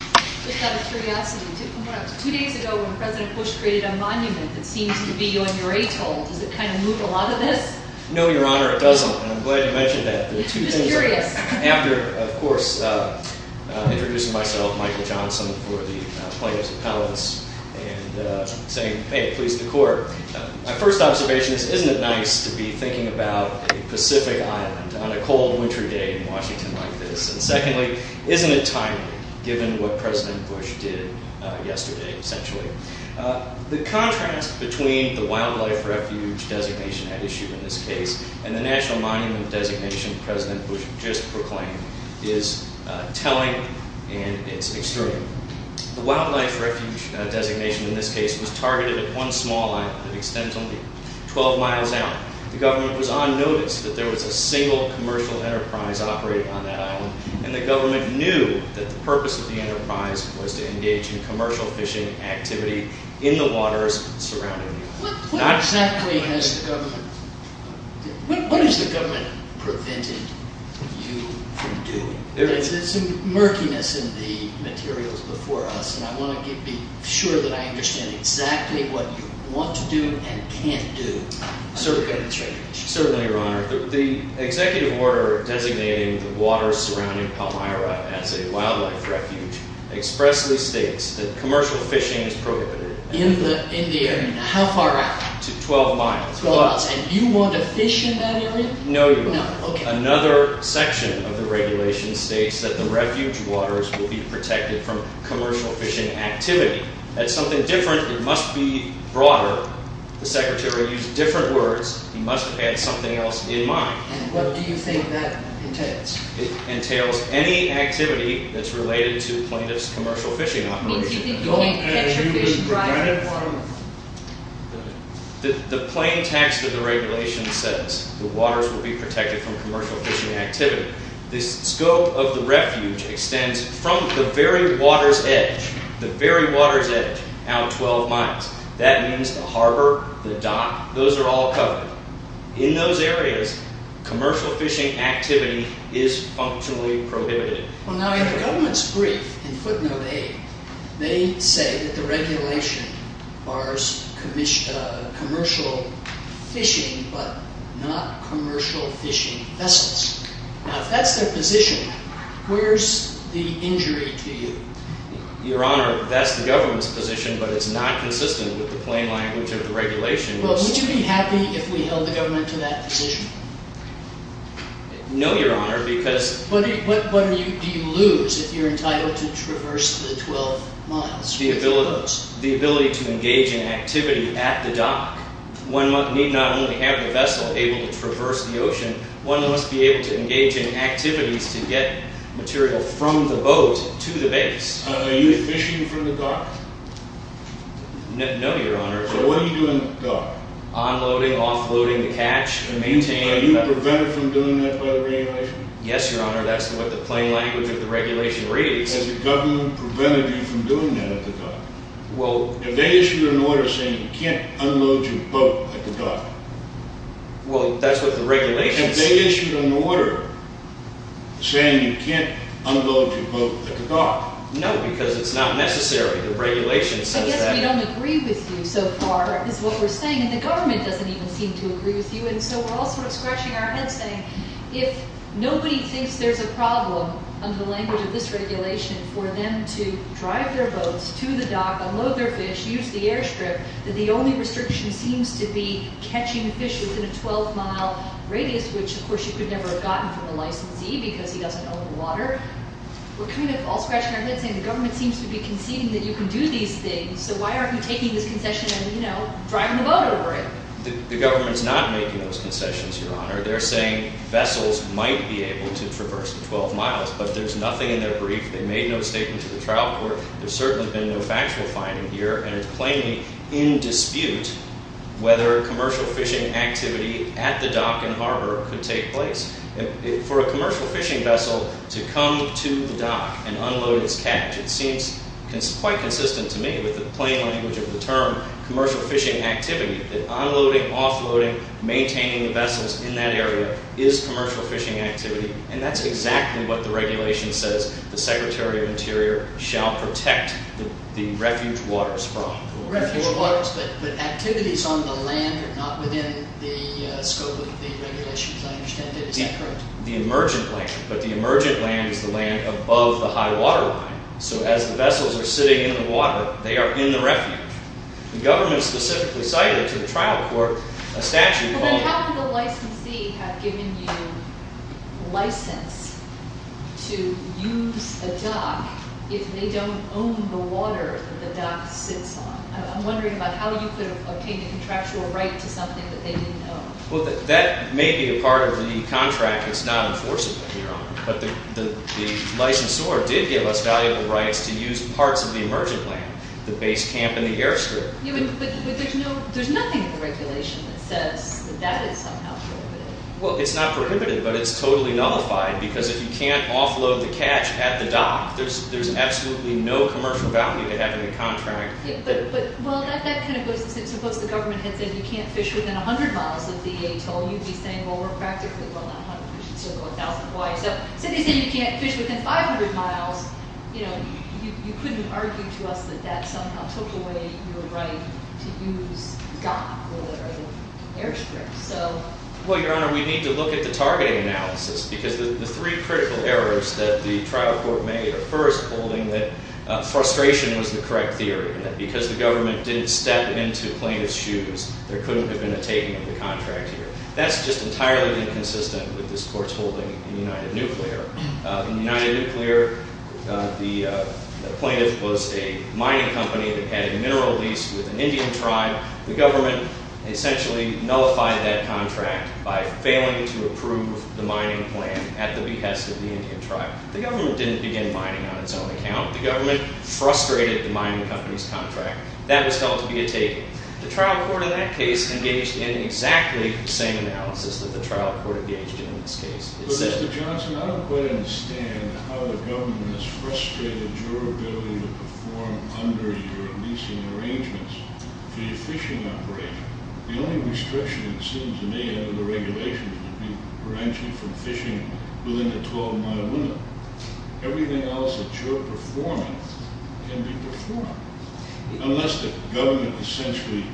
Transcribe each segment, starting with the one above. Just out of curiosity, two days ago when President Bush created a monument that seems to be on your atoll, does it kind of move a lot of this? No, Your Honor, it doesn't. And I'm glad you mentioned that. I'm just curious. After, of course, introducing myself, Michael Johnson, for the plaintiffs' appellants, and saying, hey, please decor, my first observation is, isn't it nice to be thinking about a Pacific island on a cold winter day in Washington like this? And secondly, isn't it timely, given what President Bush did yesterday, essentially? The contrast between the Wildlife Refuge designation at issue in this case and the National Monument designation President Bush just proclaimed is telling, and it's extreme. The Wildlife Refuge designation in this case was targeted at one small island that extends only 12 miles out. The government was on notice that there was a single commercial enterprise operating on that island, and the government knew that the purpose of the enterprise was to engage in commercial fishing activity in the waters surrounding the island. What exactly has the government – what has the government prevented you from doing? There's some murkiness in the materials before us, and I want to be sure that I understand exactly what you want to do and can't do. Certainly, Your Honor. The executive order designating the waters surrounding Palmyra as a wildlife refuge expressly states that commercial fishing is prohibited. In the area? Yes. How far out? To 12 miles. 12 miles. And you want to fish in that area? No, Your Honor. No, okay. Another section of the regulation states that the refuge waters will be protected from commercial fishing activity. That's something different. It must be broader. The Secretary used different words. He must have had something else in mind. And what do you think that entails? It entails any activity that's related to plaintiff's commercial fishing operation. It means you think you can't catch a fish driving in Palmyra? The plain text of the regulation says the waters will be protected from commercial fishing activity. The scope of the refuge extends from the very water's edge – the very water's edge – out 12 miles. That means the harbor, the dock, those are all covered. In those areas, commercial fishing activity is functionally prohibited. Well, now, in the government's brief in footnote A, they say that the regulation bars commercial fishing but not commercial fishing vessels. Now, if that's their position, where's the injury to you? Your Honor, that's the government's position, but it's not consistent with the plain language of the regulation. Well, would you be happy if we held the government to that position? No, Your Honor, because – What do you lose if you're entitled to traverse the 12 miles? The ability to engage in activity at the dock. One need not only have the vessel able to traverse the ocean. One must be able to engage in activities to get material from the boat to the base. Are you fishing from the dock? No, Your Honor. So what are you doing at the dock? Onloading, offloading the catch, maintaining – Are you prevented from doing that by the regulation? Yes, Your Honor, that's what the plain language of the regulation reads. Has the government prevented you from doing that at the dock? Well – They issued an order saying you can't unload your boat at the dock. Well, that's what the regulation says. They issued an order saying you can't unload your boat at the dock. No, because it's not necessary. The regulation says that. I guess we don't agree with you so far is what we're saying. And the government doesn't even seem to agree with you. And so we're all sort of scratching our heads saying if nobody thinks there's a problem, under the language of this regulation, for them to drive their boats to the dock, unload their fish, use the airstrip, that the only restriction seems to be catching fish within a 12-mile radius, which, of course, you could never have gotten from a licensee because he doesn't own the water. We're kind of all scratching our heads saying the government seems to be conceding that you can do these things, so why aren't you taking this concession and, you know, driving the boat over it? The government's not making those concessions, Your Honor. They're saying vessels might be able to traverse the 12 miles, but there's nothing in their brief. They made no statement to the trial court. There's certainly been no factual finding here, and it's plainly in dispute whether commercial fishing activity at the dock and harbor could take place. For a commercial fishing vessel to come to the dock and unload its catch, it seems quite consistent to me with the plain language of the term commercial fishing activity, that unloading, offloading, maintaining the vessels in that area is commercial fishing activity, and that's exactly what the regulation says the Secretary of Interior shall protect the refuge waters from. Refuge waters, but activities on the land are not within the scope of the regulation, as I understand it. Is that correct? The emergent land, but the emergent land is the land above the high-water line, so as the vessels are sitting in the water, they are in the refuge. The government specifically cited to the trial court a statute called— to use a dock if they don't own the water that the dock sits on. I'm wondering about how you could have obtained a contractual right to something that they didn't own. Well, that may be a part of the contract that's not enforceable here, but the licensor did give us valuable rights to use parts of the emergent land, the base camp and the airstrip. But there's nothing in the regulation that says that that is somehow prohibited. Well, it's not prohibited, but it's totally nullified, because if you can't offload the catch at the dock, there's absolutely no commercial value to having a contract. But, well, that kind of goes to say, suppose the government had said you can't fish within 100 miles of the Atoll, you'd be saying, well, we're practically well on 100, we should circle 1,000 wide. So if they said you can't fish within 500 miles, you know, you couldn't argue to us that that somehow took away your right to use the dock or the airstrip. Well, Your Honor, we need to look at the targeting analysis, because the three critical errors that the trial court made are first, holding that frustration was the correct theory, that because the government didn't step into plaintiff's shoes, there couldn't have been a taking of the contract here. That's just entirely inconsistent with this court's holding in United Nuclear. In United Nuclear, the plaintiff was a mining company that had a mineral lease with an Indian tribe. The government essentially nullified that contract by failing to approve the mining plan at the behest of the Indian tribe. The government didn't begin mining on its own account. The government frustrated the mining company's contract. That was held to be a taking. The trial court in that case engaged in exactly the same analysis that the trial court engaged in in this case. But, Mr. Johnson, I don't quite understand how the government has frustrated your ability to perform under your leasing arrangements for your fishing operation. The only restriction, it seems to me, under the regulations would be prevention from fishing within the 12-mile window. Everything else that you're performing can be performed. Unless the government essentially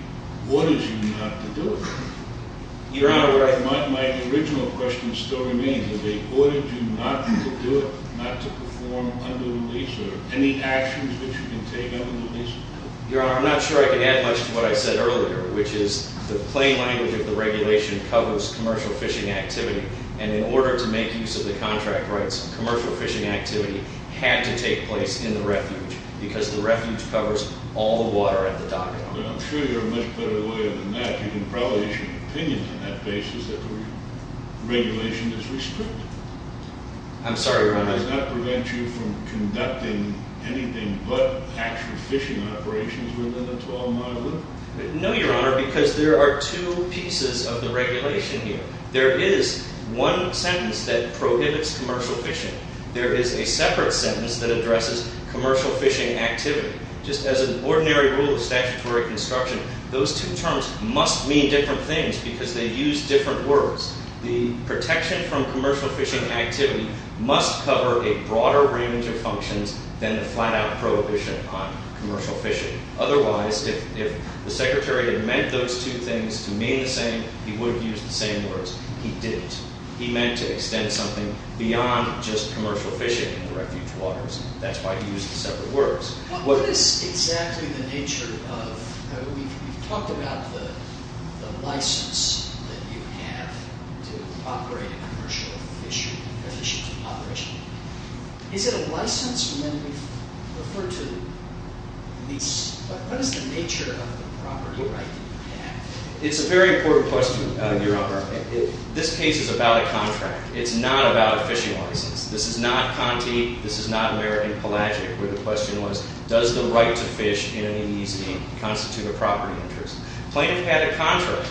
ordered you not to do it. Your Honor, my original question still remains. If they ordered you not to do it, not to perform under the lease, are there any actions that you can take under the lease? Your Honor, I'm not sure I can add much to what I said earlier, which is the plain language of the regulation covers commercial fishing activity. And in order to make use of the contract rights, commercial fishing activity had to take place in the refuge because the refuge covers all the water at the dock. I'm sure you're a much better lawyer than that. I think you can probably issue an opinion on that basis that the regulation is restricted. I'm sorry, Your Honor. Does that prevent you from conducting anything but actual fishing operations within the 12-mile window? No, Your Honor, because there are two pieces of the regulation here. There is one sentence that prohibits commercial fishing. There is a separate sentence that addresses commercial fishing activity. Just as an ordinary rule of statutory construction, those two terms must mean different things because they use different words. The protection from commercial fishing activity must cover a broader range of functions than the flat-out prohibition on commercial fishing. Otherwise, if the Secretary had meant those two things to mean the same, he would have used the same words. He didn't. He meant to extend something beyond just commercial fishing in the refuge waters. That's why he used separate words. What is exactly the nature of—we've talked about the license that you have to operate a commercial fishing operation. Is it a license when we've referred to lease? What is the nature of the property right that you have? It's a very important question, Your Honor. This case is about a contract. It's not about a fishing license. This is not Conti. This is not American Pelagic, where the question was, does the right to fish in an EEC constitute a property interest? Plaintiff had a contract.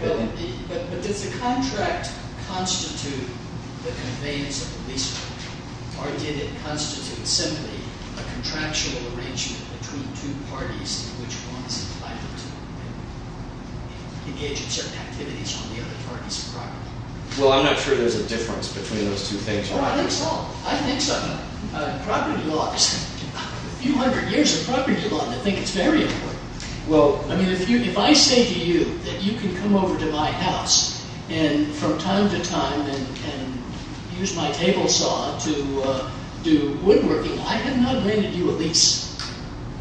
But does the contract constitute the conveyance of the lease contract, or did it constitute simply a contractual arrangement between two parties in which one is obliged to engage in certain activities on the other party's property? Well, I'm not sure there's a difference between those two things, Your Honor. Well, I think so. I think so. Property laws—a few hundred years of property law, and they think it's very important. Well— I mean, if I say to you that you can come over to my house and from time to time can use my table saw to do woodworking, I have not granted you a lease.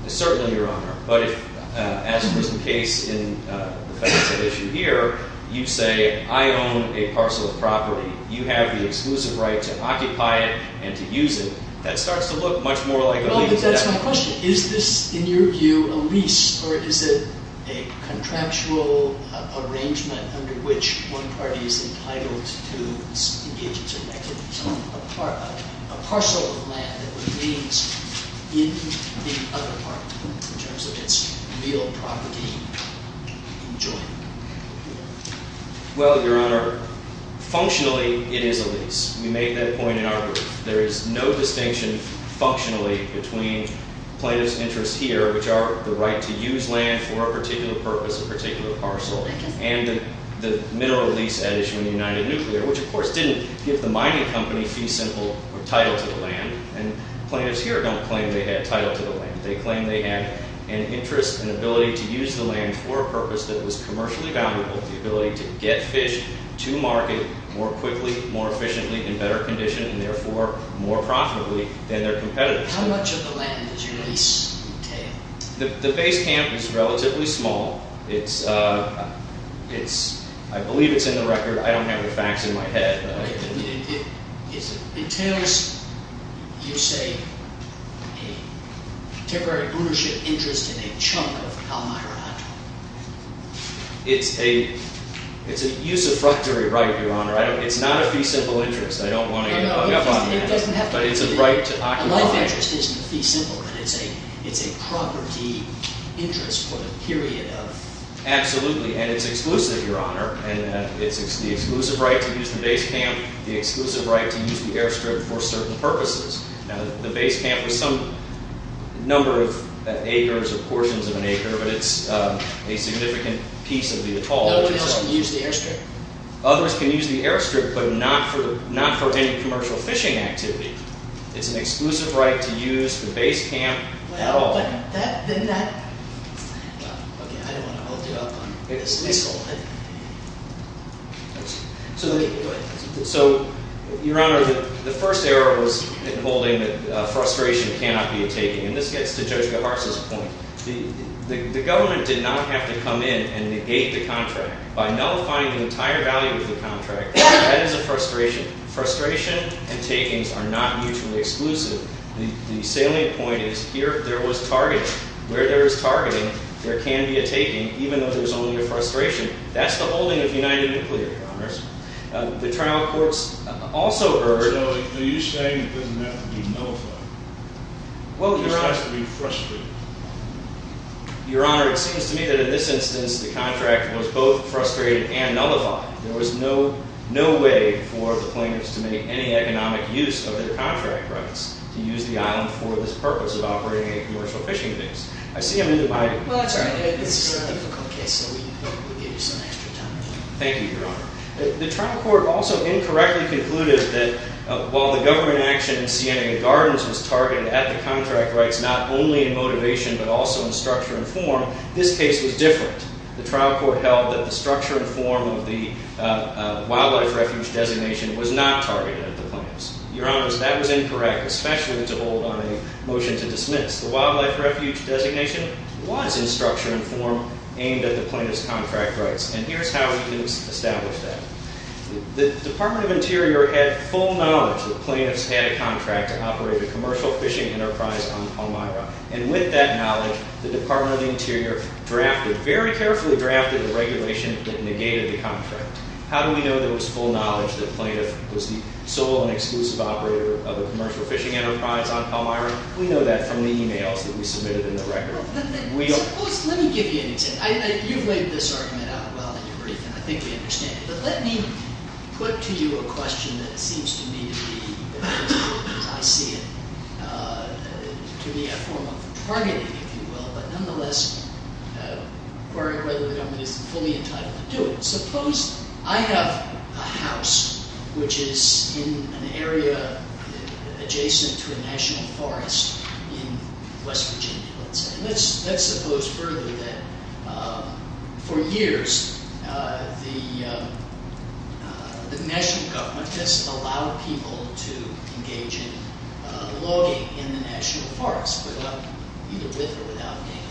Certainly, Your Honor. But if, as is the case in the facts of the issue here, you say, I own a parcel of property. You have the exclusive right to occupy it and to use it, that starts to look much more like a lease. Well, but that's my question. Is this, in your view, a lease, or is it a contractual arrangement under which one party is entitled to engage in certain activities on a parcel of land that remains in the other party in terms of its real property enjoyment? Well, Your Honor, functionally, it is a lease. We made that point in our brief. There is no distinction functionally between plaintiff's interests here, which are the right to use land for a particular purpose, a particular parcel, and the mineral lease addition in the United Nuclear, which, of course, didn't give the mining company fee simple or title to the land. And plaintiffs here don't claim they had title to the land. They claim they had an interest and ability to use the land for a purpose that was commercially valuable, the ability to get fish to market more quickly, more efficiently, in better condition, and therefore more profitably than their competitors. How much of the land did your lease entail? The base camp is relatively small. I believe it's in the record. I don't have the facts in my head. It entails, you say, a temporary ownership interest in a chunk of Elmira. It's a usurpatory right, Your Honor. It's not a fee simple interest. I don't want to get up on you, but it's a right to occupy. A right to interest isn't a fee simple, but it's a property interest for the period of... The exclusive right to use the base camp, the exclusive right to use the airstrip for certain purposes. Now, the base camp was some number of acres or portions of an acre, but it's a significant piece of the atoll. Nobody else can use the airstrip. Others can use the airstrip, but not for any commercial fishing activity. It's an exclusive right to use the base camp at all. Okay, I don't want to hold you up on this. Go ahead. So, Your Honor, the first error was in holding that frustration cannot be a taking, and this gets to Judge Gahars' point. The government did not have to come in and negate the contract by nullifying the entire value of the contract. That is a frustration. Frustration and takings are not mutually exclusive. The salient point is here there was targeting. Where there is targeting, there can be a taking, even though there's only a frustration. That's the holding of United Nuclear Commerce. The trial courts also heard... So are you saying it doesn't have to be nullified? Well, Your Honor... It just has to be frustrated. Your Honor, it seems to me that in this instance the contract was both frustrated and nullified. There was no way for the plaintiffs to make any economic use of their contract rights to use the island for this purpose of operating a commercial fishing base. I see them in the... Well, that's all right. This is a difficult case, so we'll give you some extra time. Thank you, Your Honor. The trial court also incorrectly concluded that while the government action in Siena Gardens was targeted at the contract rights not only in motivation but also in structure and form, this case was different. The trial court held that the structure and form of the wildlife refuge designation was not targeted at the plaintiffs. Your Honors, that was incorrect, especially to hold on a motion to dismiss. The wildlife refuge designation was in structure and form aimed at the plaintiffs' contract rights, and here's how we can establish that. The Department of Interior had full knowledge that plaintiffs had a contract to operate a commercial fishing enterprise on Palmyra, and with that knowledge, the Department of Interior drafted, very carefully drafted, the regulation that negated the contract. How do we know there was full knowledge that a plaintiff was the sole and exclusive operator of a commercial fishing enterprise on Palmyra? We know that from the e-mails that we submitted in the record. Let me give you an example. You've laid this argument out well in your brief, and I think you understand it, but let me put to you a question that seems to me to be, I see it, to be a form of targeting, if you will, but nonetheless, requiring whether the government is fully entitled to do it. Suppose I have a house which is in an area adjacent to a national forest in West Virginia, let's say. For years, the national government just allowed people to engage in logging in the national forest, either with or without paying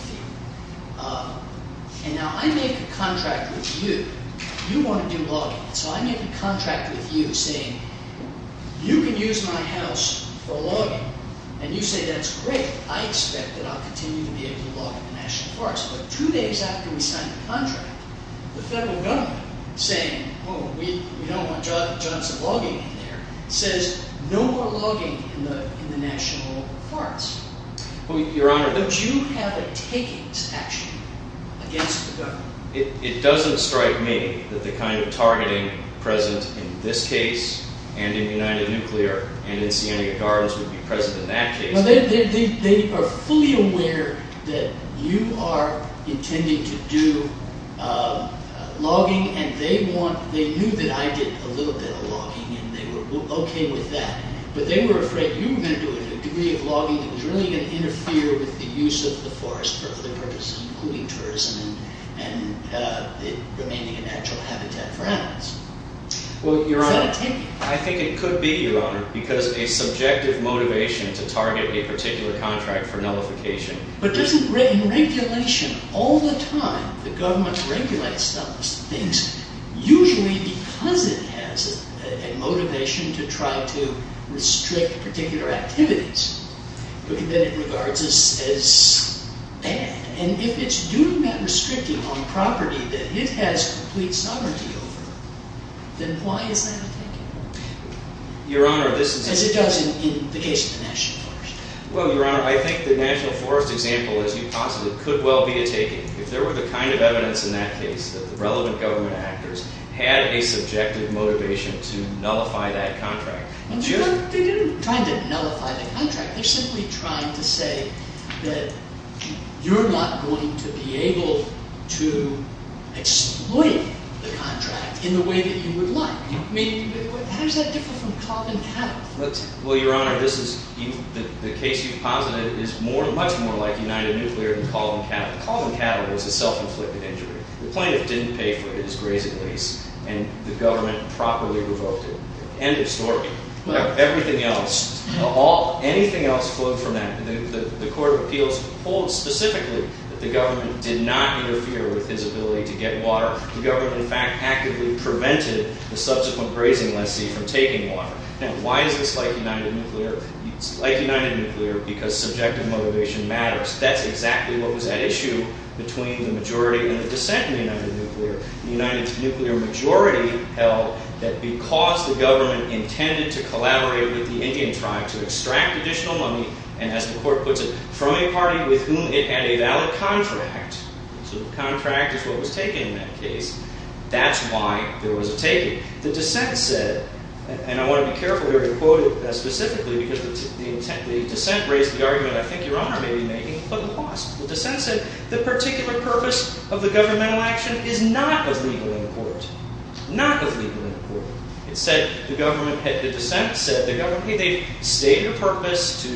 a fee. Now, I make a contract with you. You want to do logging, so I make a contract with you saying, you can use my house for logging, and you say, that's great. I expect that I'll continue to be able to log in the national forest. But two days after we signed the contract, the federal government saying, oh, we don't want Johnson logging in there, says no more logging in the national forest. Would you have a taking statute against the government? It doesn't strike me that the kind of targeting present in this case, and in United Nuclear, and in Scenic Gardens would be present in that case. They are fully aware that you are intending to do logging, and they knew that I did a little bit of logging, and they were okay with that. But they were afraid you were going to do a degree of logging that was really going to interfere with the use of the forest for other purposes, including tourism and remaining a natural habitat for animals. Because a subjective motivation to target a particular contract for nullification. But doesn't regulation all the time, the government regulates those things, usually because it has a motivation to try to restrict particular activities. But then it regards us as bad. And if it's doing that restricting on property that it has complete sovereignty over, then why is that a taking? Your Honor, this is... As it does in the case of the national forest. Well, Your Honor, I think the national forest example, as you posited, could well be a taking. If there were the kind of evidence in that case, that the relevant government actors had a subjective motivation to nullify that contract. They're not trying to nullify the contract. They're simply trying to say that you're not going to be able to exploit the contract in the way that you would like. How does that differ from Caldwin-Cattle? Well, Your Honor, the case you've posited is much more like United Nuclear than Caldwin-Cattle. Caldwin-Cattle was a self-inflicted injury. The plaintiff didn't pay for his grazing lease and the government properly revoked it. End of story. Everything else, anything else flowed from that. The Court of Appeals holds specifically that the government did not interfere with his ability to get water. The government, in fact, actively prevented the subsequent grazing lessee from taking water. Now, why is this like United Nuclear? It's like United Nuclear because subjective motivation matters. That's exactly what was at issue between the majority and the dissent in United Nuclear. The United Nuclear majority held that because the government intended to collaborate with the Indian tribe to extract additional money, and as the Court puts it, from a party with whom it had a valid contract. So the contract is what was taken in that case. That's why there was a taking. The dissent said, and I want to be careful here to quote it specifically because the dissent raised the argument I think Your Honor may be making, but lost. The dissent said the particular purpose of the governmental action is not of legal import. Not of legal import. The dissent said, hey, they've stated a purpose to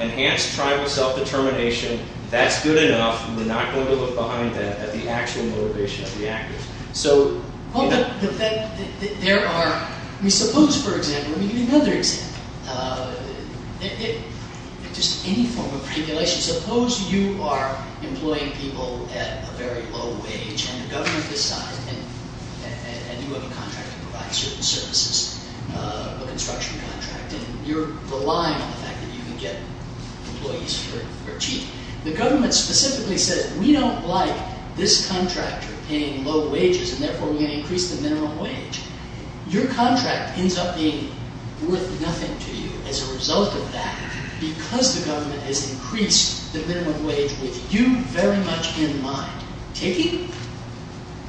enhance tribal self-determination. That's good enough. We're not going to look behind that at the actual motivation of the actors. So there are, I mean, suppose, for example, let me give you another example. Just any form of regulation. Suppose you are employing people at a very low wage, and the government decides, and you have a contract to provide certain services, a construction contract, and you're relying on the fact that you can get employees for cheap. The government specifically says, we don't like this contractor paying low wages, and therefore we're going to increase the minimum wage. Your contract ends up being worth nothing to you as a result of that because the government has increased the minimum wage with you very much in mind. Taking?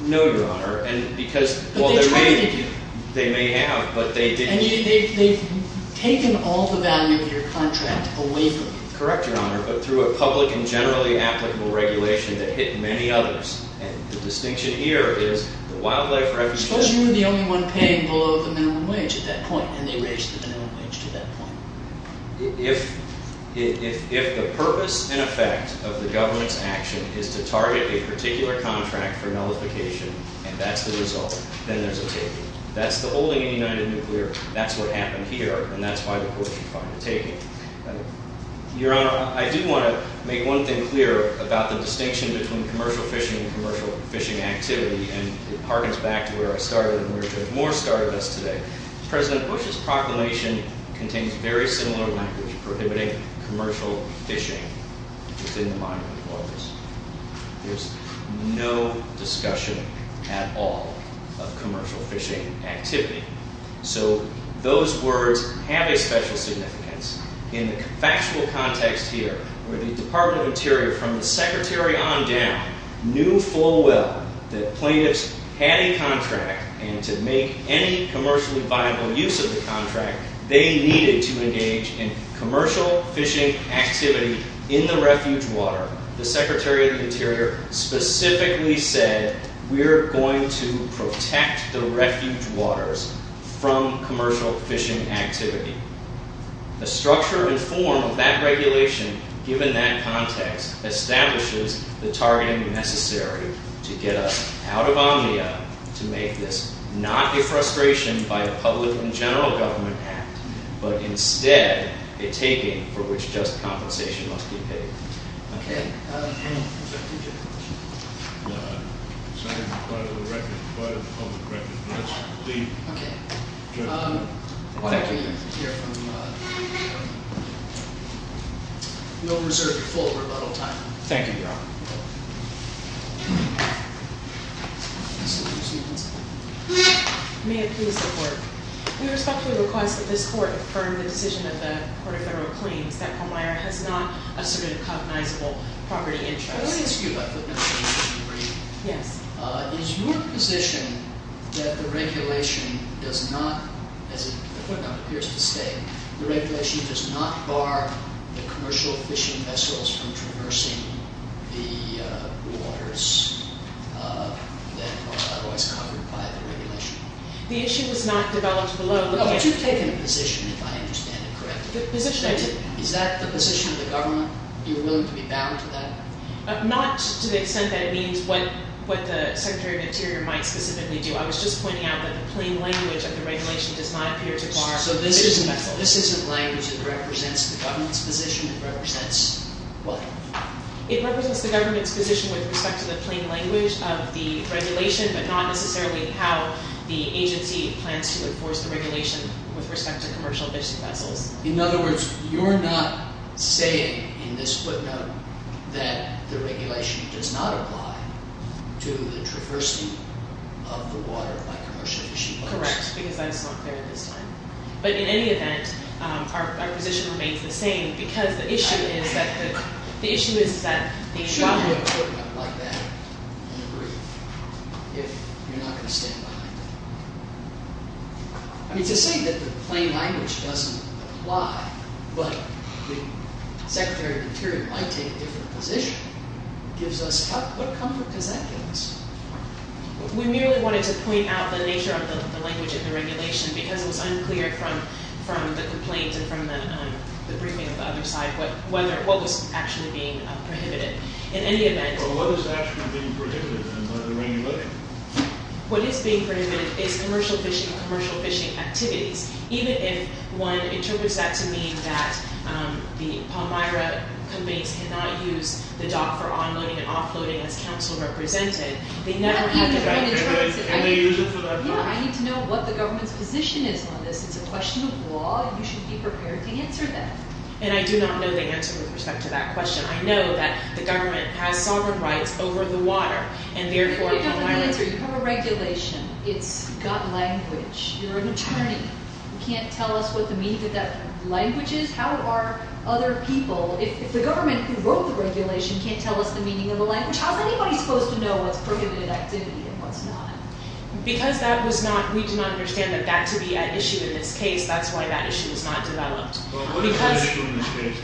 No, Your Honor, and because they may have, but they didn't. And they've taken all the value of your contract away from you. Correct, Your Honor, but through a public and generally applicable regulation, they've hit many others. And the distinction here is the wildlife refugee. Suppose you were the only one paying below the minimum wage at that point, and they raised the minimum wage to that point. If the purpose and effect of the government's action is to target a particular contract for nullification, and that's the result, then there's a taking. That's the holding in United Nuclear. That's what happened here, and that's why the court should find a taking. Your Honor, I do want to make one thing clear about the distinction between commercial fishing and commercial fishing activity, and it harkens back to where I started and where Judge Moore started us today. President Bush's proclamation contains very similar language, prohibiting commercial fishing within the mind of employers. There's no discussion at all of commercial fishing activity. So those words have a special significance in the factual context here where the Department of Interior, from the secretary on down, knew full well that plaintiffs had a contract, and to make any commercially viable use of the contract, they needed to engage in commercial fishing activity in the refuge water. The secretary of the Interior specifically said, we're going to protect the refuge waters from commercial fishing activity. The structure and form of that regulation, given that context, establishes the targeting necessary to get us out of Omnia to make this not a frustration by a public and general government act, Thank you. No reserved full rebuttal time. Thank you, Your Honor. May it please the court. We respectfully request that this court affirm the decision that the court of federal claims that Holmeyer has not asserted a cognizable property interest. I want to ask you about footnote 3. Yes. Is your position that the regulation does not, as the footnote appears to state, the regulation does not bar the commercial fishing vessels from traversing the waters that are otherwise covered by the regulation? The issue was not developed below. But you've taken a position, if I understand it correctly. Is that the position of the government? You're willing to be bound to that? Not to the extent that it means what the secretary of the Interior might specifically do. I was just pointing out that the plain language of the regulation does not appear to bar fishing vessels. So this isn't language that represents the government's position. It represents what? It represents the government's position with respect to the plain language of the regulation, but not necessarily how the agency plans to enforce the regulation with respect to commercial fishing vessels. In other words, you're not saying in this footnote that the regulation does not apply to the traversing of the water by commercial fishing vessels? Correct, because that is not clear at this time. But in any event, our position remains the same because the issue is that the environment... Shouldn't you have a footnote like that in the brief if you're not going to stand behind it? I mean, to say that the plain language doesn't apply, but the secretary of the Interior might take a different position gives us... What comfort does that give us? We merely wanted to point out the nature of the language of the regulation because it was unclear from the complaints and from the briefing of the other side what was actually being prohibited. In any event... Well, what is actually being prohibited under the regulation? What is being prohibited is commercial fishing and commercial fishing activities. Even if one interprets that to mean that the Palmyra companies cannot use the dock for onloading and offloading as counsel represented, they never have to... I need to know what the government's position is on this. It's a question of law and you should be prepared to answer that. And I do not know the answer with respect to that question. I know that the government has sovereign rights over the water and therefore Palmyra... You don't have an answer. You have a regulation. It's got language. You're an attorney. You can't tell us what the meaning of that language is? How are other people... If the government who wrote the regulation can't tell us the meaning of the language, how is anybody supposed to know what's prohibited activity and what's not? Because that was not... We do not understand that that to be an issue in this case. That's why that issue is not developed. Well, what is the issue in this case?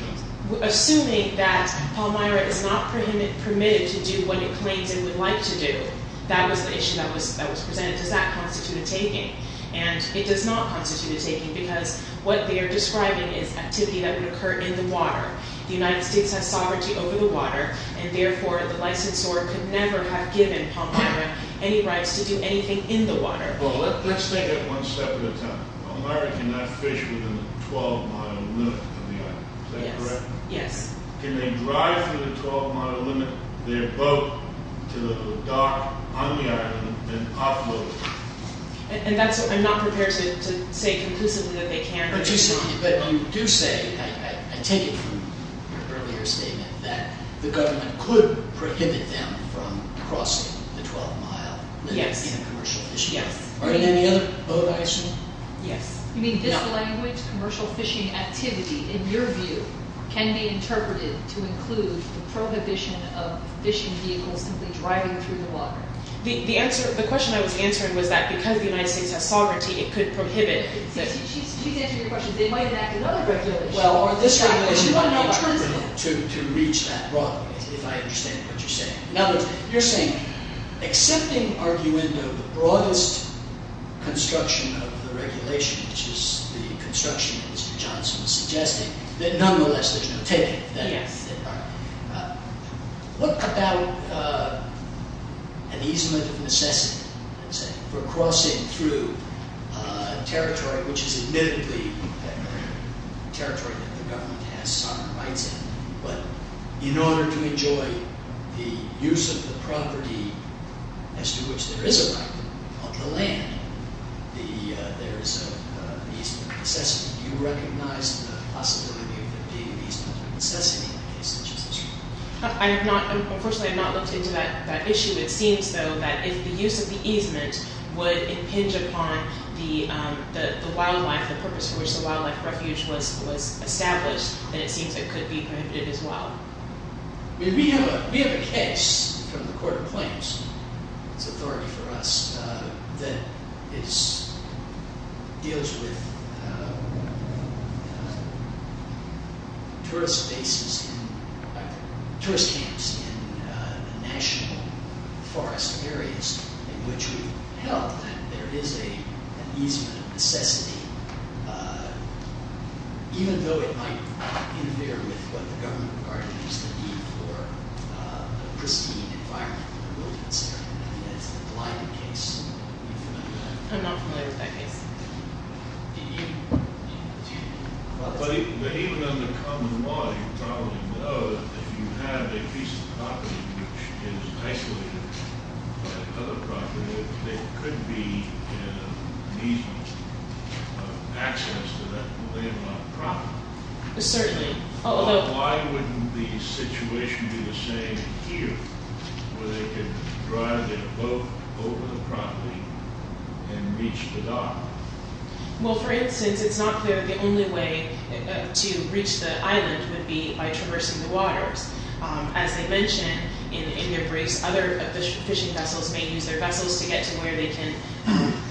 Assuming that Palmyra is not permitted to do what it claims it would like to do, that was the issue that was presented. Does that constitute a taking? And it does not constitute a taking because what they are describing is activity that would occur in the water. The United States has sovereignty over the water and therefore the licensor could never have given Palmyra any rights to do anything in the water. Well, let's take it one step at a time. Palmyra cannot fish within the 12-mile limit on the island. Is that correct? Yes. Can they drive through the 12-mile limit their boat to the dock on the island and offload it? I'm not prepared to say conclusively that they can. But you do say, I take it from your earlier statement, that the government could prohibit them from crossing the 12-mile limit on commercial fishing. Yes. Are there any other boat islands? Yes. You mean this language, commercial fishing activity, in your view, can be interpreted to include the prohibition of fishing vehicles simply driving through the water? The question I was answering was that because the United States has sovereignty, it could prohibit. She's answering your question. They might enact another regulation. Well, this regulation might be interpreted to reach that broadly, if I understand what you're saying. In other words, you're saying accepting arguendo the broadest construction of the regulation, which is the construction that Mr. Johnson was suggesting, that nonetheless there's no taking of that. Yes. All right. What about an easement of necessity, let's say, for crossing through a territory, which is admittedly a territory that the government has sovereign rights in, but in order to enjoy the use of the property as to which there is a right on the land, there is an easement of necessity. Do you recognize the possibility of there being an easement of necessity in a case such as this one? Unfortunately, I have not looked into that issue. It seems, though, that if the use of the easement would impinge upon the wildlife, the purpose for which the wildlife refuge was established, then it seems it could be prohibited as well. We have a case from the Court of Claims. It's authority for us that deals with tourist camps in national forest areas in which we've held that there is an easement of necessity, even though it might interfere with what the government regarded as the need for a pristine environment for the wilderness. That's the Glyden case. Are you familiar with that? I'm not familiar with that case. But even under common law, you probably know that if you have a piece of property which is isolated by another property, there could be an easement of access to that landlocked property. Certainly. Why wouldn't the situation be the same here, where they could drive their boat over the property and reach the dock? Well, for instance, it's not clear that the only way to reach the island would be by traversing the waters. As I mentioned in your briefs, other fishing vessels may use their vessels to get to where they can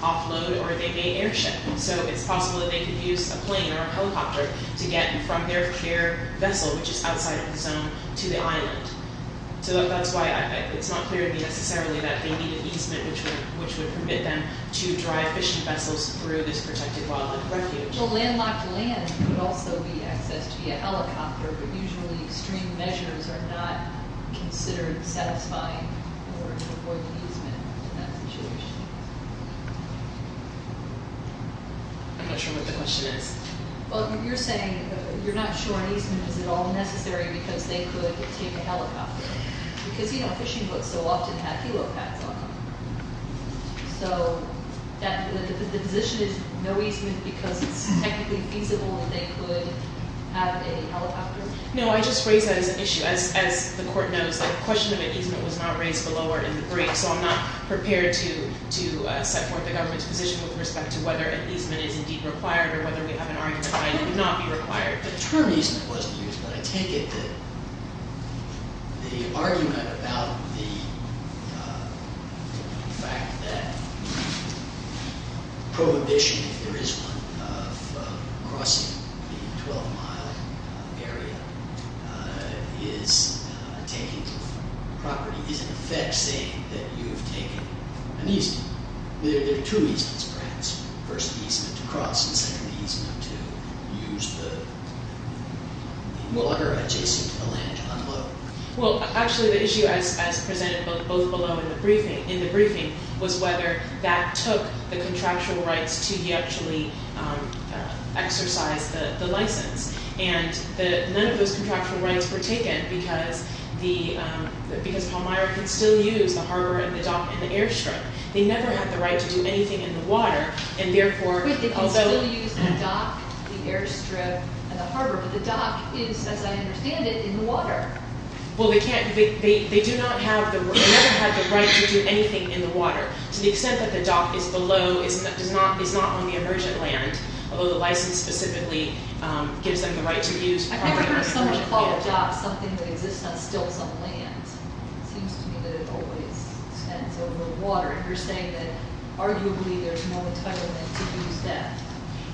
offload or they may airship. So it's possible that they could use a plane or a helicopter to get from their air vessel, which is outside of the zone, to the island. So that's why it's not clear to me necessarily that they need an easement which would permit them to drive fishing vessels through this protected wildlife refuge. Well, landlocked land could also be accessed via helicopter, but usually extreme measures are not considered satisfying in order to avoid the easement in that situation. I'm not sure what the question is. Well, you're saying you're not sure an easement is at all necessary because they could take a helicopter. Because, you know, fishing boats so often have helipads on them. So the position is no easement because it's technically feasible that they could have a helicopter? No, I just raised that as an issue. As the court knows, the question of an easement was not raised below or in the brief, so I'm not prepared to set forth the government's position with respect to whether an easement is indeed required or whether we have an argument behind it would not be required. The term easement wasn't used, but I take it that the argument about the fact that prohibition, if there is one, of crossing the 12-mile area is a taking of property, is in effect saying that you've taken an easement. There are two easements, perhaps. The first easement to cross and the second easement to use the water adjacent to the land to unload. Well, actually, the issue as presented both below in the briefing was whether that took the contractual rights to actually exercise the license. And none of those contractual rights were taken because Palmyra could still use the harbor and the dock and the airstrip. They never had the right to do anything in the water, and therefore, although— Wait, they can still use the dock, the airstrip, and the harbor, but the dock is, as I understand it, in the water. Well, they can't—they do not have the—they never had the right to do anything in the water, to the extent that the dock is below—is not on the emergent land, although the license specifically gives them the right to use— I've never heard someone call a dock something that exists on still some land. It seems to me that it always extends over the water. You're saying that, arguably, there's no entitlement to use that.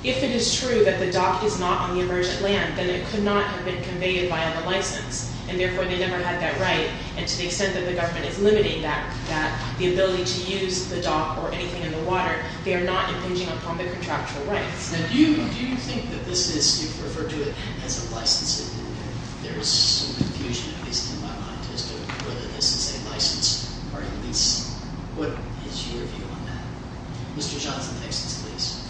If it is true that the dock is not on the emergent land, then it could not have been conveyed via the license, and therefore, they never had that right, and to the extent that the government is limiting that, the ability to use the dock or anything in the water, they are not impinging upon the contractual rights. Now, do you think that this is—you've referred to it as a licensing rule. There's some confusion, at least in my mind, as to whether this is a license or a lease. What is your view on that? Mr. Johnson, next, please.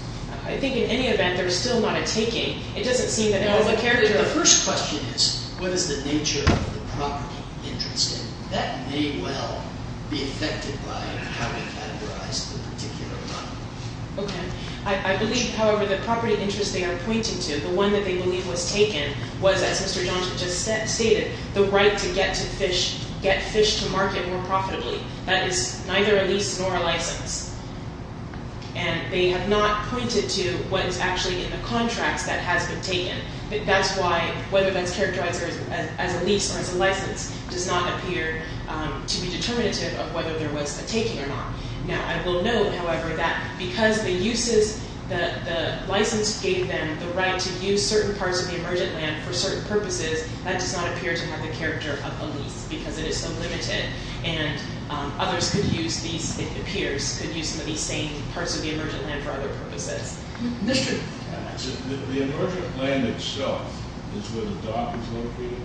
I think, in any event, there's still not a taking. It doesn't seem that— No, but the first question is, what is the nature of the property interested? That may well be affected by how we categorize the particular property. Okay. I believe, however, the property interest they are pointing to, the one that they believe was taken, was, as Mr. Johnson just stated, the right to get fish to market more profitably. That is neither a lease nor a license. And they have not pointed to what is actually in the contracts that has been taken. That's why, whether that's characterized as a lease or as a license, does not appear to be determinative of whether there was a taking or not. Now, I will note, however, that because the uses— the license gave them the right to use certain parts of the emergent land for certain purposes, that does not appear to have the character of a lease because it is so limited. And others could use these, it appears, could use some of these same parts of the emergent land for other purposes. Mr.— The emergent land itself is where the dock is located?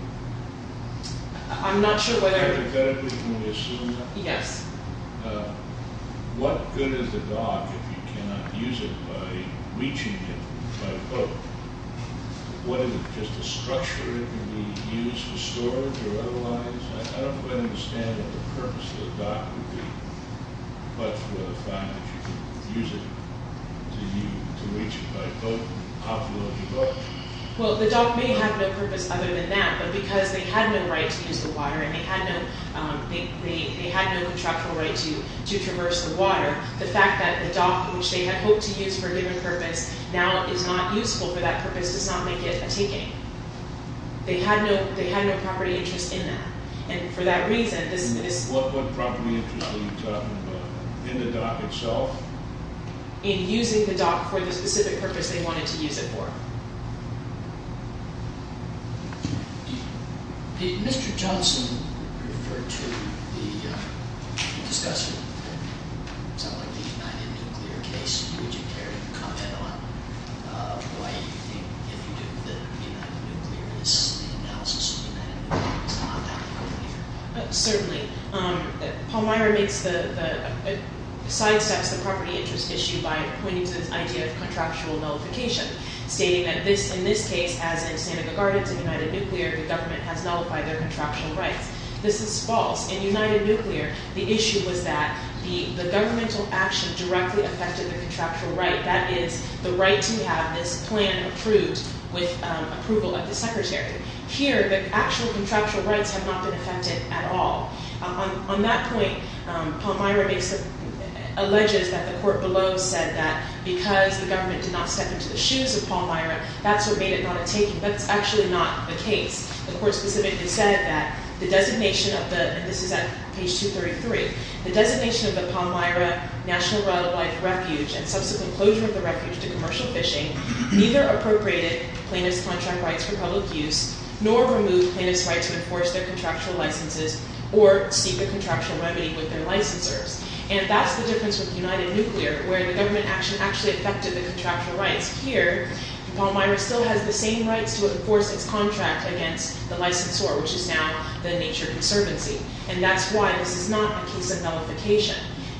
I'm not sure whether— Can we assume that? Yes. What good is the dock if you cannot use it by reaching it by boat? What is it, just a structure it can be used for storage or otherwise? I don't quite understand what the purpose of the dock would be, but for the fact that you can use it to reach it by boat, how can you let it go? Well, the dock may have no purpose other than that, but because they had no right to use the water and they had no contractual right to traverse the water, the fact that the dock, which they had hoped to use for a given purpose, now is not useful for that purpose does not make it a taking. They had no property interest in that. And for that reason, this— What property interest are you talking about? In the dock itself? In using the dock for the specific purpose they wanted to use it for. Did Mr. Johnson refer to the discussion of something like the United Nuclear case? Would you care to comment on why you think if you do the United Nuclear, this is the analysis of the United Nuclear, it's not a property interest? Certainly. Pallmeyer sidesteps the property interest issue by pointing to this idea of contractual nullification, stating that in this case, as in Seneca Gardens in United Nuclear, the government has nullified their contractual rights. This is false. In United Nuclear, the issue was that the governmental action directly affected the contractual right, that is, the right to have this plan approved with approval of the secretary. Here, the actual contractual rights have not been affected at all. On that point, Pallmeyer alleges that the court below said that because the government did not step into the shoes of Pallmeyer, that's what made it not a taking. That's actually not the case. The court specifically said that the designation of the, and this is at page 233, the designation of the Pallmeyer National Wildlife Refuge and subsequent closure of the refuge to commercial fishing neither appropriated plaintiff's contract rights for public use nor removed plaintiff's right to enforce their contractual licenses or seek a contractual remedy with their licensors. And that's the difference with United Nuclear, where the government action actually affected the contractual rights. Here, Pallmeyer still has the same rights to enforce its contract against the licensor, which is now the Nature Conservancy. And that's why this is not a case of nullification.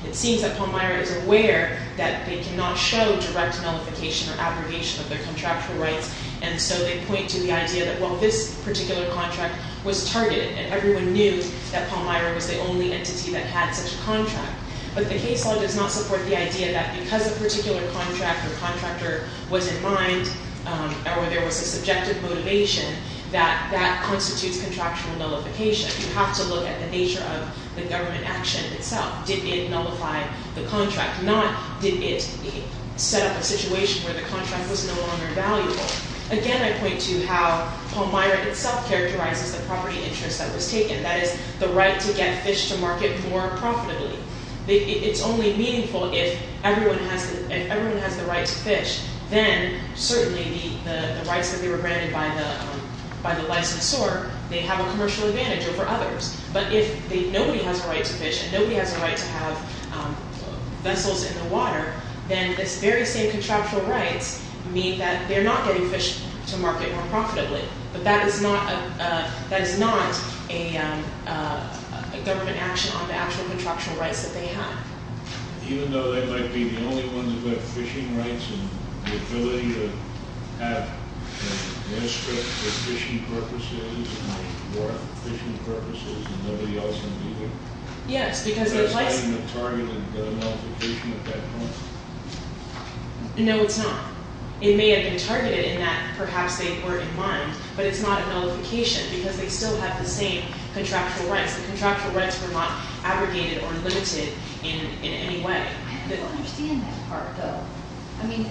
It seems that Pallmeyer is aware that they cannot show direct nullification or abrogation of their contractual rights, and so they point to the idea that, well, this particular contract was targeted, and everyone knew that Pallmeyer was the only entity that had such a contract. But the case law does not support the idea that because a particular contract or contractor was in mind or there was a subjective motivation, that that constitutes contractual nullification. You have to look at the nature of the government action itself. Did it nullify the contract? Not, did it set up a situation where the contract was no longer valuable? Again, I point to how Pallmeyer itself characterizes the property interest that was taken, that is, the right to get fish to market more profitably. It's only meaningful if everyone has the right to fish. Then, certainly, the rights that they were granted by the licensor, they have a commercial advantage over others. But if nobody has a right to fish and nobody has a right to have vessels in the water, then this very same contractual rights mean that they're not getting fish to market more profitably. But that is not a government action on the actual contractual rights that they have. Even though they might be the only ones who have fishing rights and the ability to have a manuscript for fishing purposes or fishing purposes and nobody else has either? Yes, because of the license. So it's not even a targeted nullification at that point? No, it's not. It may have been targeted in that perhaps they were in mind, but it's not a nullification because they still have the same contractual rights. The contractual rights were not abrogated or limited in any way. I don't understand that part, though. I mean,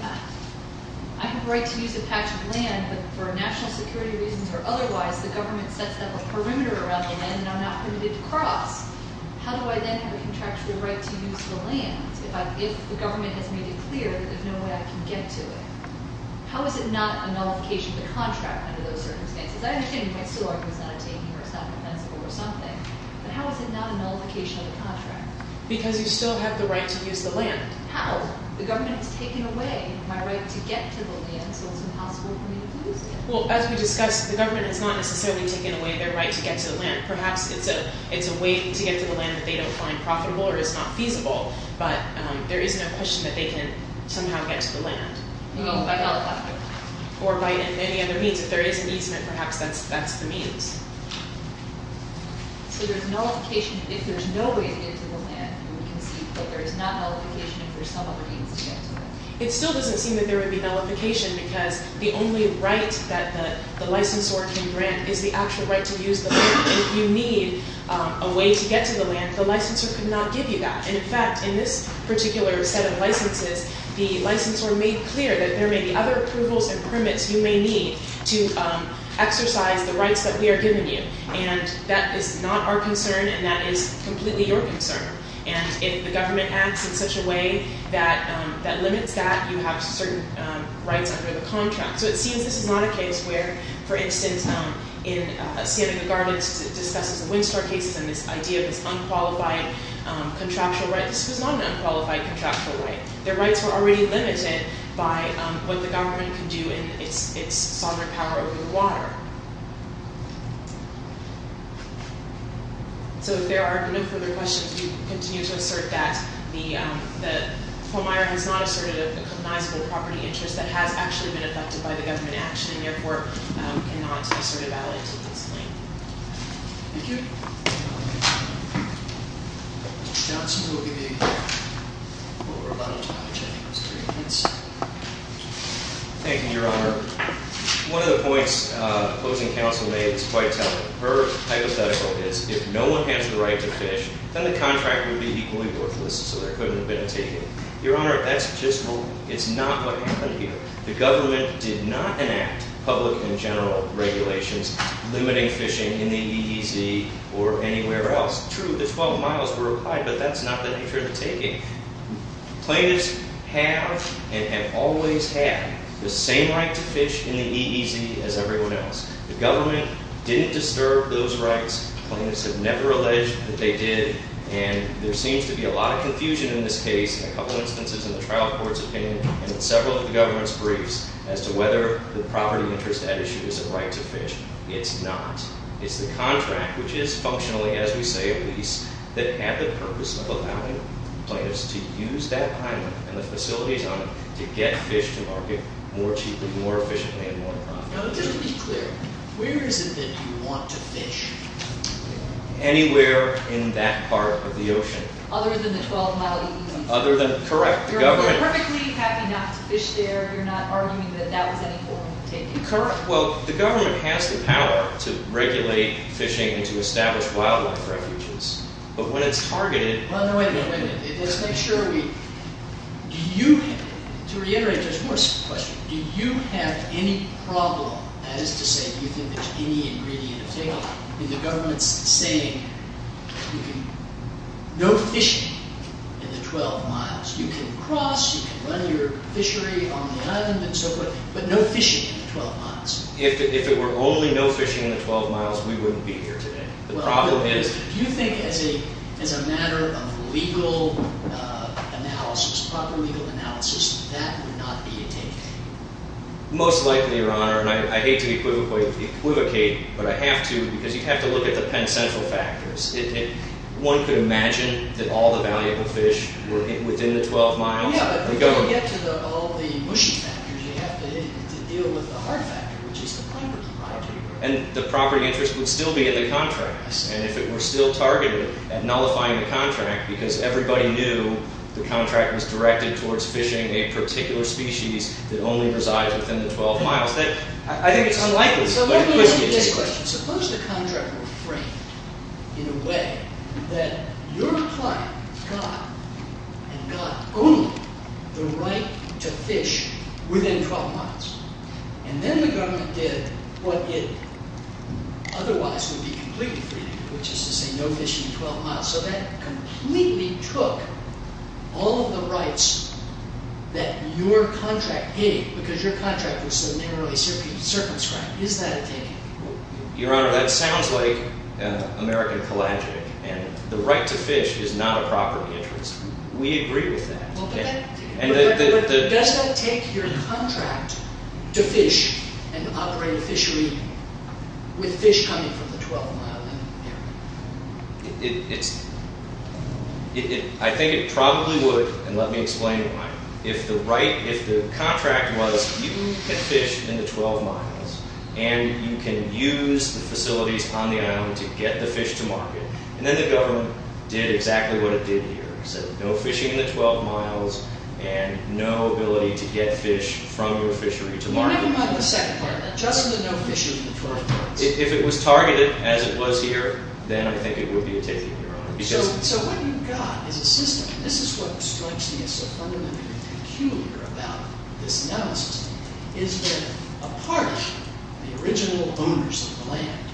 I have a right to use a patch of land, but for national security reasons or otherwise, the government sets up a perimeter around the land and I'm not permitted to cross. How do I then have a contractual right to use the land if the government has made it clear that there's no way I can get to it? How is it not a nullification of the contract under those circumstances? I understand you might still argue it's not a taking or it's not compensable or something, but how is it not a nullification of the contract? Because you still have the right to use the land. How? The government has taken away my right to get to the land, so it's impossible for me to use it. Well, as we discussed, the government has not necessarily taken away their right to get to the land. Perhaps it's a way to get to the land that they don't find profitable or is not feasible, but there is no question that they can somehow get to the land. No, by nullification. Or by any other means. If there is an easement, perhaps that's the means. So there's nullification if there's no way to get to the land, and we can see that there is not nullification if there's some other means to get to it. It still doesn't seem that there would be nullification, because the only right that the licensor can grant is the actual right to use the land. If you need a way to get to the land, the licensor could not give you that. And in fact, in this particular set of licenses, the licensor made clear that there may be other approvals and permits you may need to exercise the rights that we are giving you. And that is not our concern, and that is completely your concern. And if the government acts in such a way that limits that, you have certain rights under the contract. So it seems this is not a case where, for instance, in Standing the Gardens, it discusses the Windstar cases and this idea of this unqualified contractual right. This was not an unqualified contractual right. Their rights were already limited by what the government can do in its sovereign power over the water. So if there are no further questions, we continue to assert that the homeowner has not asserted a recognizable property interest that has actually been affected by the government action, and therefore cannot assert a value to this claim. Thank you. Johnson will give you what we're about to have, which I think is pretty intense. Thank you, Your Honor. One of the points opposing counsel made is quite telling. Her hypothetical is, if no one has the right to fish, then the contract would be equally worthless, so there couldn't have been a taking. Your Honor, that's just not what happened here. The government did not enact public and general regulations limiting fishing in the EEZ or anywhere else. True, the 12 miles were applied, but that's not the nature of the taking. Plaintiffs have, and have always had, the same right to fish in the EEZ as everyone else. The government didn't disturb those rights. Plaintiffs have never alleged that they did, and there seems to be a lot of confusion in this case, in a couple instances in the trial court's opinion, and in several of the government's briefs, as to whether the property interest at issue is a right to fish. It's not. It's the contract, which is functionally, as we say, a lease, that had the purpose of allowing plaintiffs to use that island and the facilities on it to get fish to market more cheaply, more efficiently, and more profitably. Just to be clear, where is it that you want to fish? Anywhere in that part of the ocean. Other than the 12-mile EEZ? Correct. You're perfectly happy not to fish there. You're not arguing that that was any form of taking? Correct. The government has the power to regulate fishing and to establish wildlife refuges. But when it's targeted... Wait a minute. Let's make sure we... Do you... To reiterate, just one question. Do you have any problem, that is to say, do you think there's any ingredient of failure, in the government's saying, no fishing in the 12 miles? You can cross, you can run your fishery on the island and so forth, but no fishing in the 12 miles? If it were only no fishing in the 12 miles, we wouldn't be here today. The problem is... Do you think as a matter of legal analysis, proper legal analysis, that would not be a take-away? Most likely, Your Honor, and I hate to equivocate, but I have to, because you have to look at the Penn Central factors. One could imagine that all the valuable fish were within the 12 miles. Yeah, but you don't get to all the mushy factors. You have to deal with the hard factor, which is the property. And the property interest would still be in the contracts. And if it were still targeted at nullifying the contract, because everybody knew the contract was directed towards fishing a particular species that only resides within the 12 miles, I think it's unlikely. So let me ask you this question. Suppose the contract were framed in a way that your client got and got only the right to fish within 12 miles. And then the government did what it otherwise would be completely free, which is to say no fishing in 12 miles. So that completely took all of the rights that your contract gave, because your contract was so narrowly circumscribed. Is that a take-away? Your Honor, that sounds like American collagen. And the right to fish is not a property interest. We agree with that. But does that take your contract to fish and operate a fishery with fish coming from the 12-mile area? I think it probably would, and let me explain why. If the contract was you can fish in the 12 miles and you can use the facilities on the island to get the fish to market, then the government did exactly what it did here. It said no fishing in the 12 miles and no ability to get fish from your fishery to market. Just the no fishing in the 12 miles. If it was targeted as it was here, then I think it would be a take-away, Your Honor. So what you've got is a system. This is what strikes me as so fundamentally peculiar about this analysis is that a part of the original owners of the land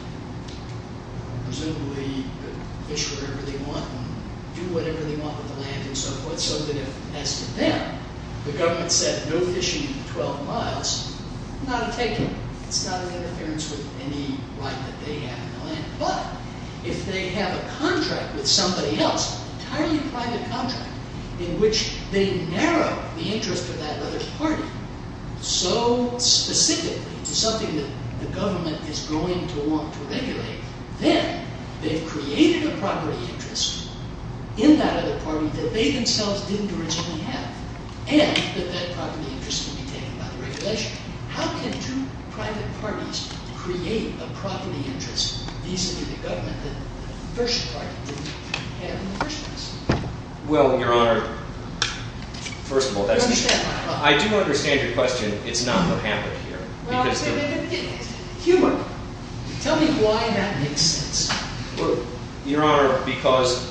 presumably could fish whatever they want and do whatever they want with the land and so forth, so that if, as to them, the government said no fishing in the 12 miles, not a take-away. It's not an interference with any right that they have in the land. But if they have a contract with somebody else, an entirely private contract, in which they narrow the interest of that other party so specifically to something that the government is going to want to regulate, then they've created a property interest in that other party that they themselves didn't originally have and that that property interest can be taken by the regulation. How can two private parties create a property interest vis-a-vis the government that the first party didn't have in the first place? Well, Your Honor, first of all, that's... I do understand your question. It's not the habit here. Humor. Tell me why that makes sense. Well, Your Honor, because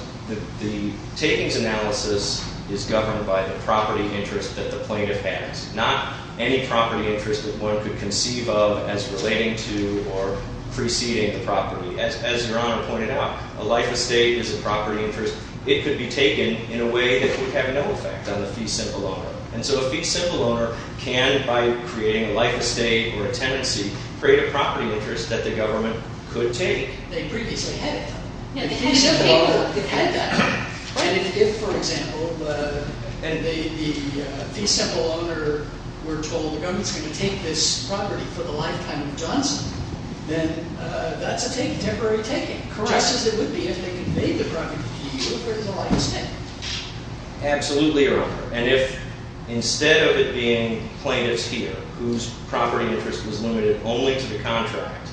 the takings analysis is governed by the property interest that the plaintiff has, not any property interest that one could conceive of as relating to or preceding the property. As Your Honor pointed out, a life estate is a property interest. It could be taken in a way that would have no effect on the fee-symbol owner. And so a fee-symbol owner can, by creating a life estate or a tenancy, create a property interest that the government could take. They previously had it, though. The fee-symbol owner had that. And if, for example, the fee-symbol owner were told the government's going to take this property for the lifetime of Johnson, then that's a temporary taking, just as it would be if they conveyed the property to you for the lifetime. Absolutely, Your Honor. And if, instead of it being plaintiffs here whose property interest was limited only to the contract...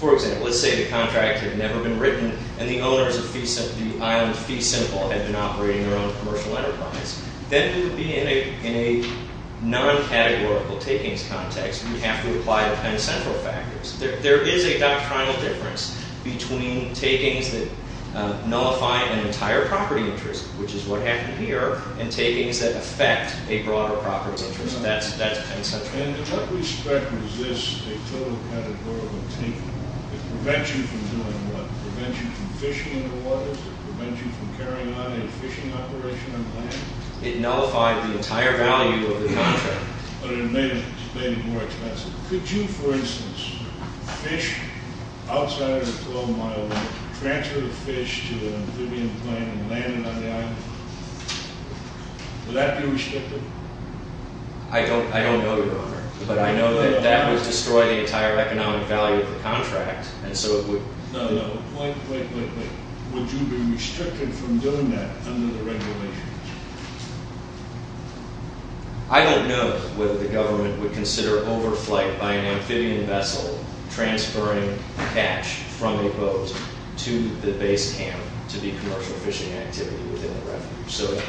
For example, let's say the contract had never been written and the owners of the island fee-symbol had been operating their own commercial enterprise. Then it would be in a non-categorical takings context. We'd have to apply the Penn Central factors. There is a doctrinal difference between takings that nullify an entire property interest, which is what happened here, and takings that affect a broader property interest. That's Penn Central. And what we expect is this, a total categorical taking that prevents you from doing what? Prevents you from fishing in the waters? Prevents you from carrying out a fishing operation on the land? It nullified the entire value of the contract. But it made it more expensive. Could you, for instance, fish outside of the colonial mile, transfer the fish to an amphibian plane and land it on the island? Would that be restricted? I don't know, Your Honor. But I know that that would destroy the entire economic value of the contract, and so it would... No, no. Wait, wait, wait. Would you be restricted from doing that under the regulations? I don't know whether the government would consider overflight by an amphibian vessel transferring catch from a boat to the base camp to be commercial fishing activity within the refuge. So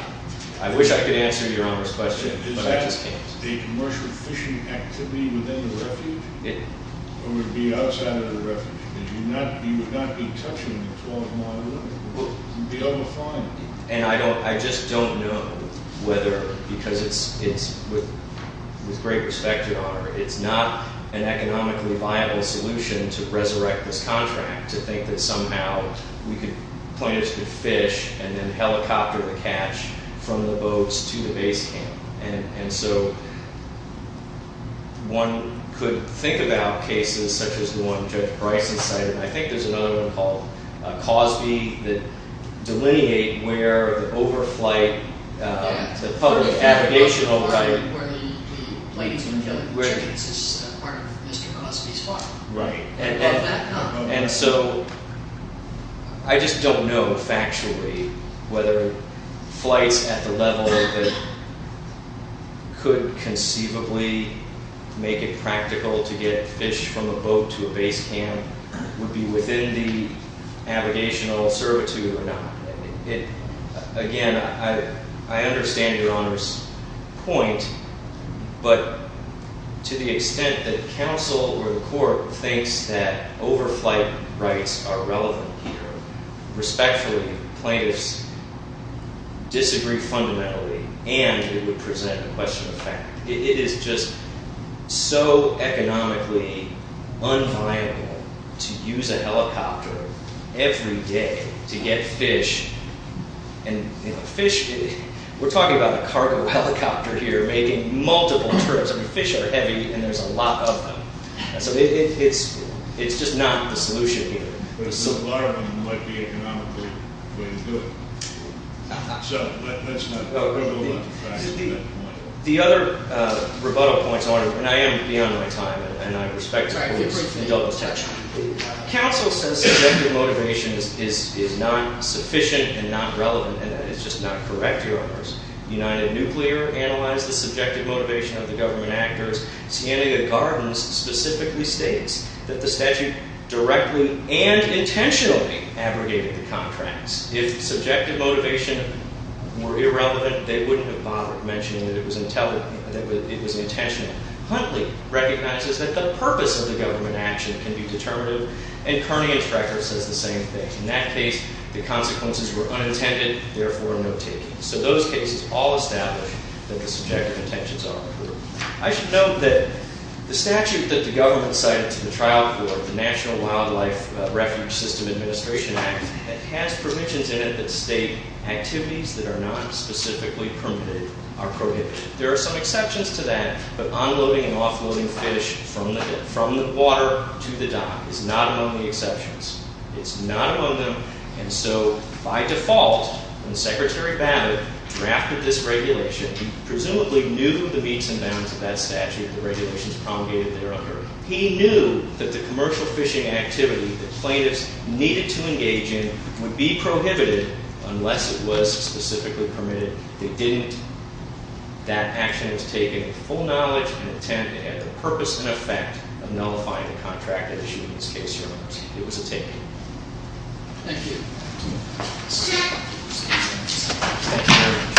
I wish I could answer Your Honor's question, but I just can't. Would that be a commercial fishing activity within the refuge? Or would it be outside of the refuge? You would not be touching the 12-mile limit? You'd be able to find it. And I just don't know whether, because it's... With great respect, Your Honor, it's not an economically viable solution to resurrect this contract, to think that somehow plaintiffs could fish and then helicopter the catch from the boats to the base camp. And so one could think about cases such as the one Judge Bryson cited, and I think there's another one called Cosby, that delineate where the overflight, the public navigational right... Where the plaintiff can feel like the check is part of Mr. Cosby's file. Right. And so I just don't know factually whether flights at the level that could conceivably make it practical to get fish from a boat to a base camp would be within the navigational servitude or not. Again, I understand Your Honor's point, but to the extent that counsel or the court thinks that overflight rights are relevant here, respectfully, plaintiffs disagree fundamentally and it would present a question of fact. It is just so economically unviable to use a helicopter every day to get fish and fish... We're talking about a cargo helicopter here making multiple trips. Fish are heavy and there's a lot of them. So it's just not the solution here. A lot of them might be economically way to do it. So let's not go to that point. The other rebuttal point, Your Honor, and I am beyond my time, and I respect the court's indulgence. Counsel says subjective motivation is not sufficient and not relevant, and that is just not correct, Your Honors. United Nuclear analyzed the subjective motivation of the government actors. Scandia Gardens specifically states that the statute directly and intentionally abrogated the contracts. If subjective motivation were irrelevant, they wouldn't have bothered mentioning that it was intentional. Huntley recognizes that the purpose of the government action can be determinative, and Kearney and Strecker says the same thing. In that case, the consequences were unintended, therefore no taking. So those cases all establish that the subjective intentions are appropriate. I should note that the statute that the government cited to the trial court, the National Wildlife Refuge System Administration Act, it has provisions in it that state activities that are not specifically permitted are prohibited. There are some exceptions to that, but unloading and offloading fish from the water to the dock is not among the exceptions. It's not among them, and so by default, when Secretary Babbitt drafted this regulation, he presumably knew the meats and bounds of that statute, the regulations promulgated there under it. He knew that the commercial fishing activity that plaintiffs needed to engage in would be prohibited unless it was specifically permitted. They didn't. That action was taken with full knowledge and intent and had the purpose and effect of nullifying the contract that issued in this case, Your Honors. It was a take. Thank you.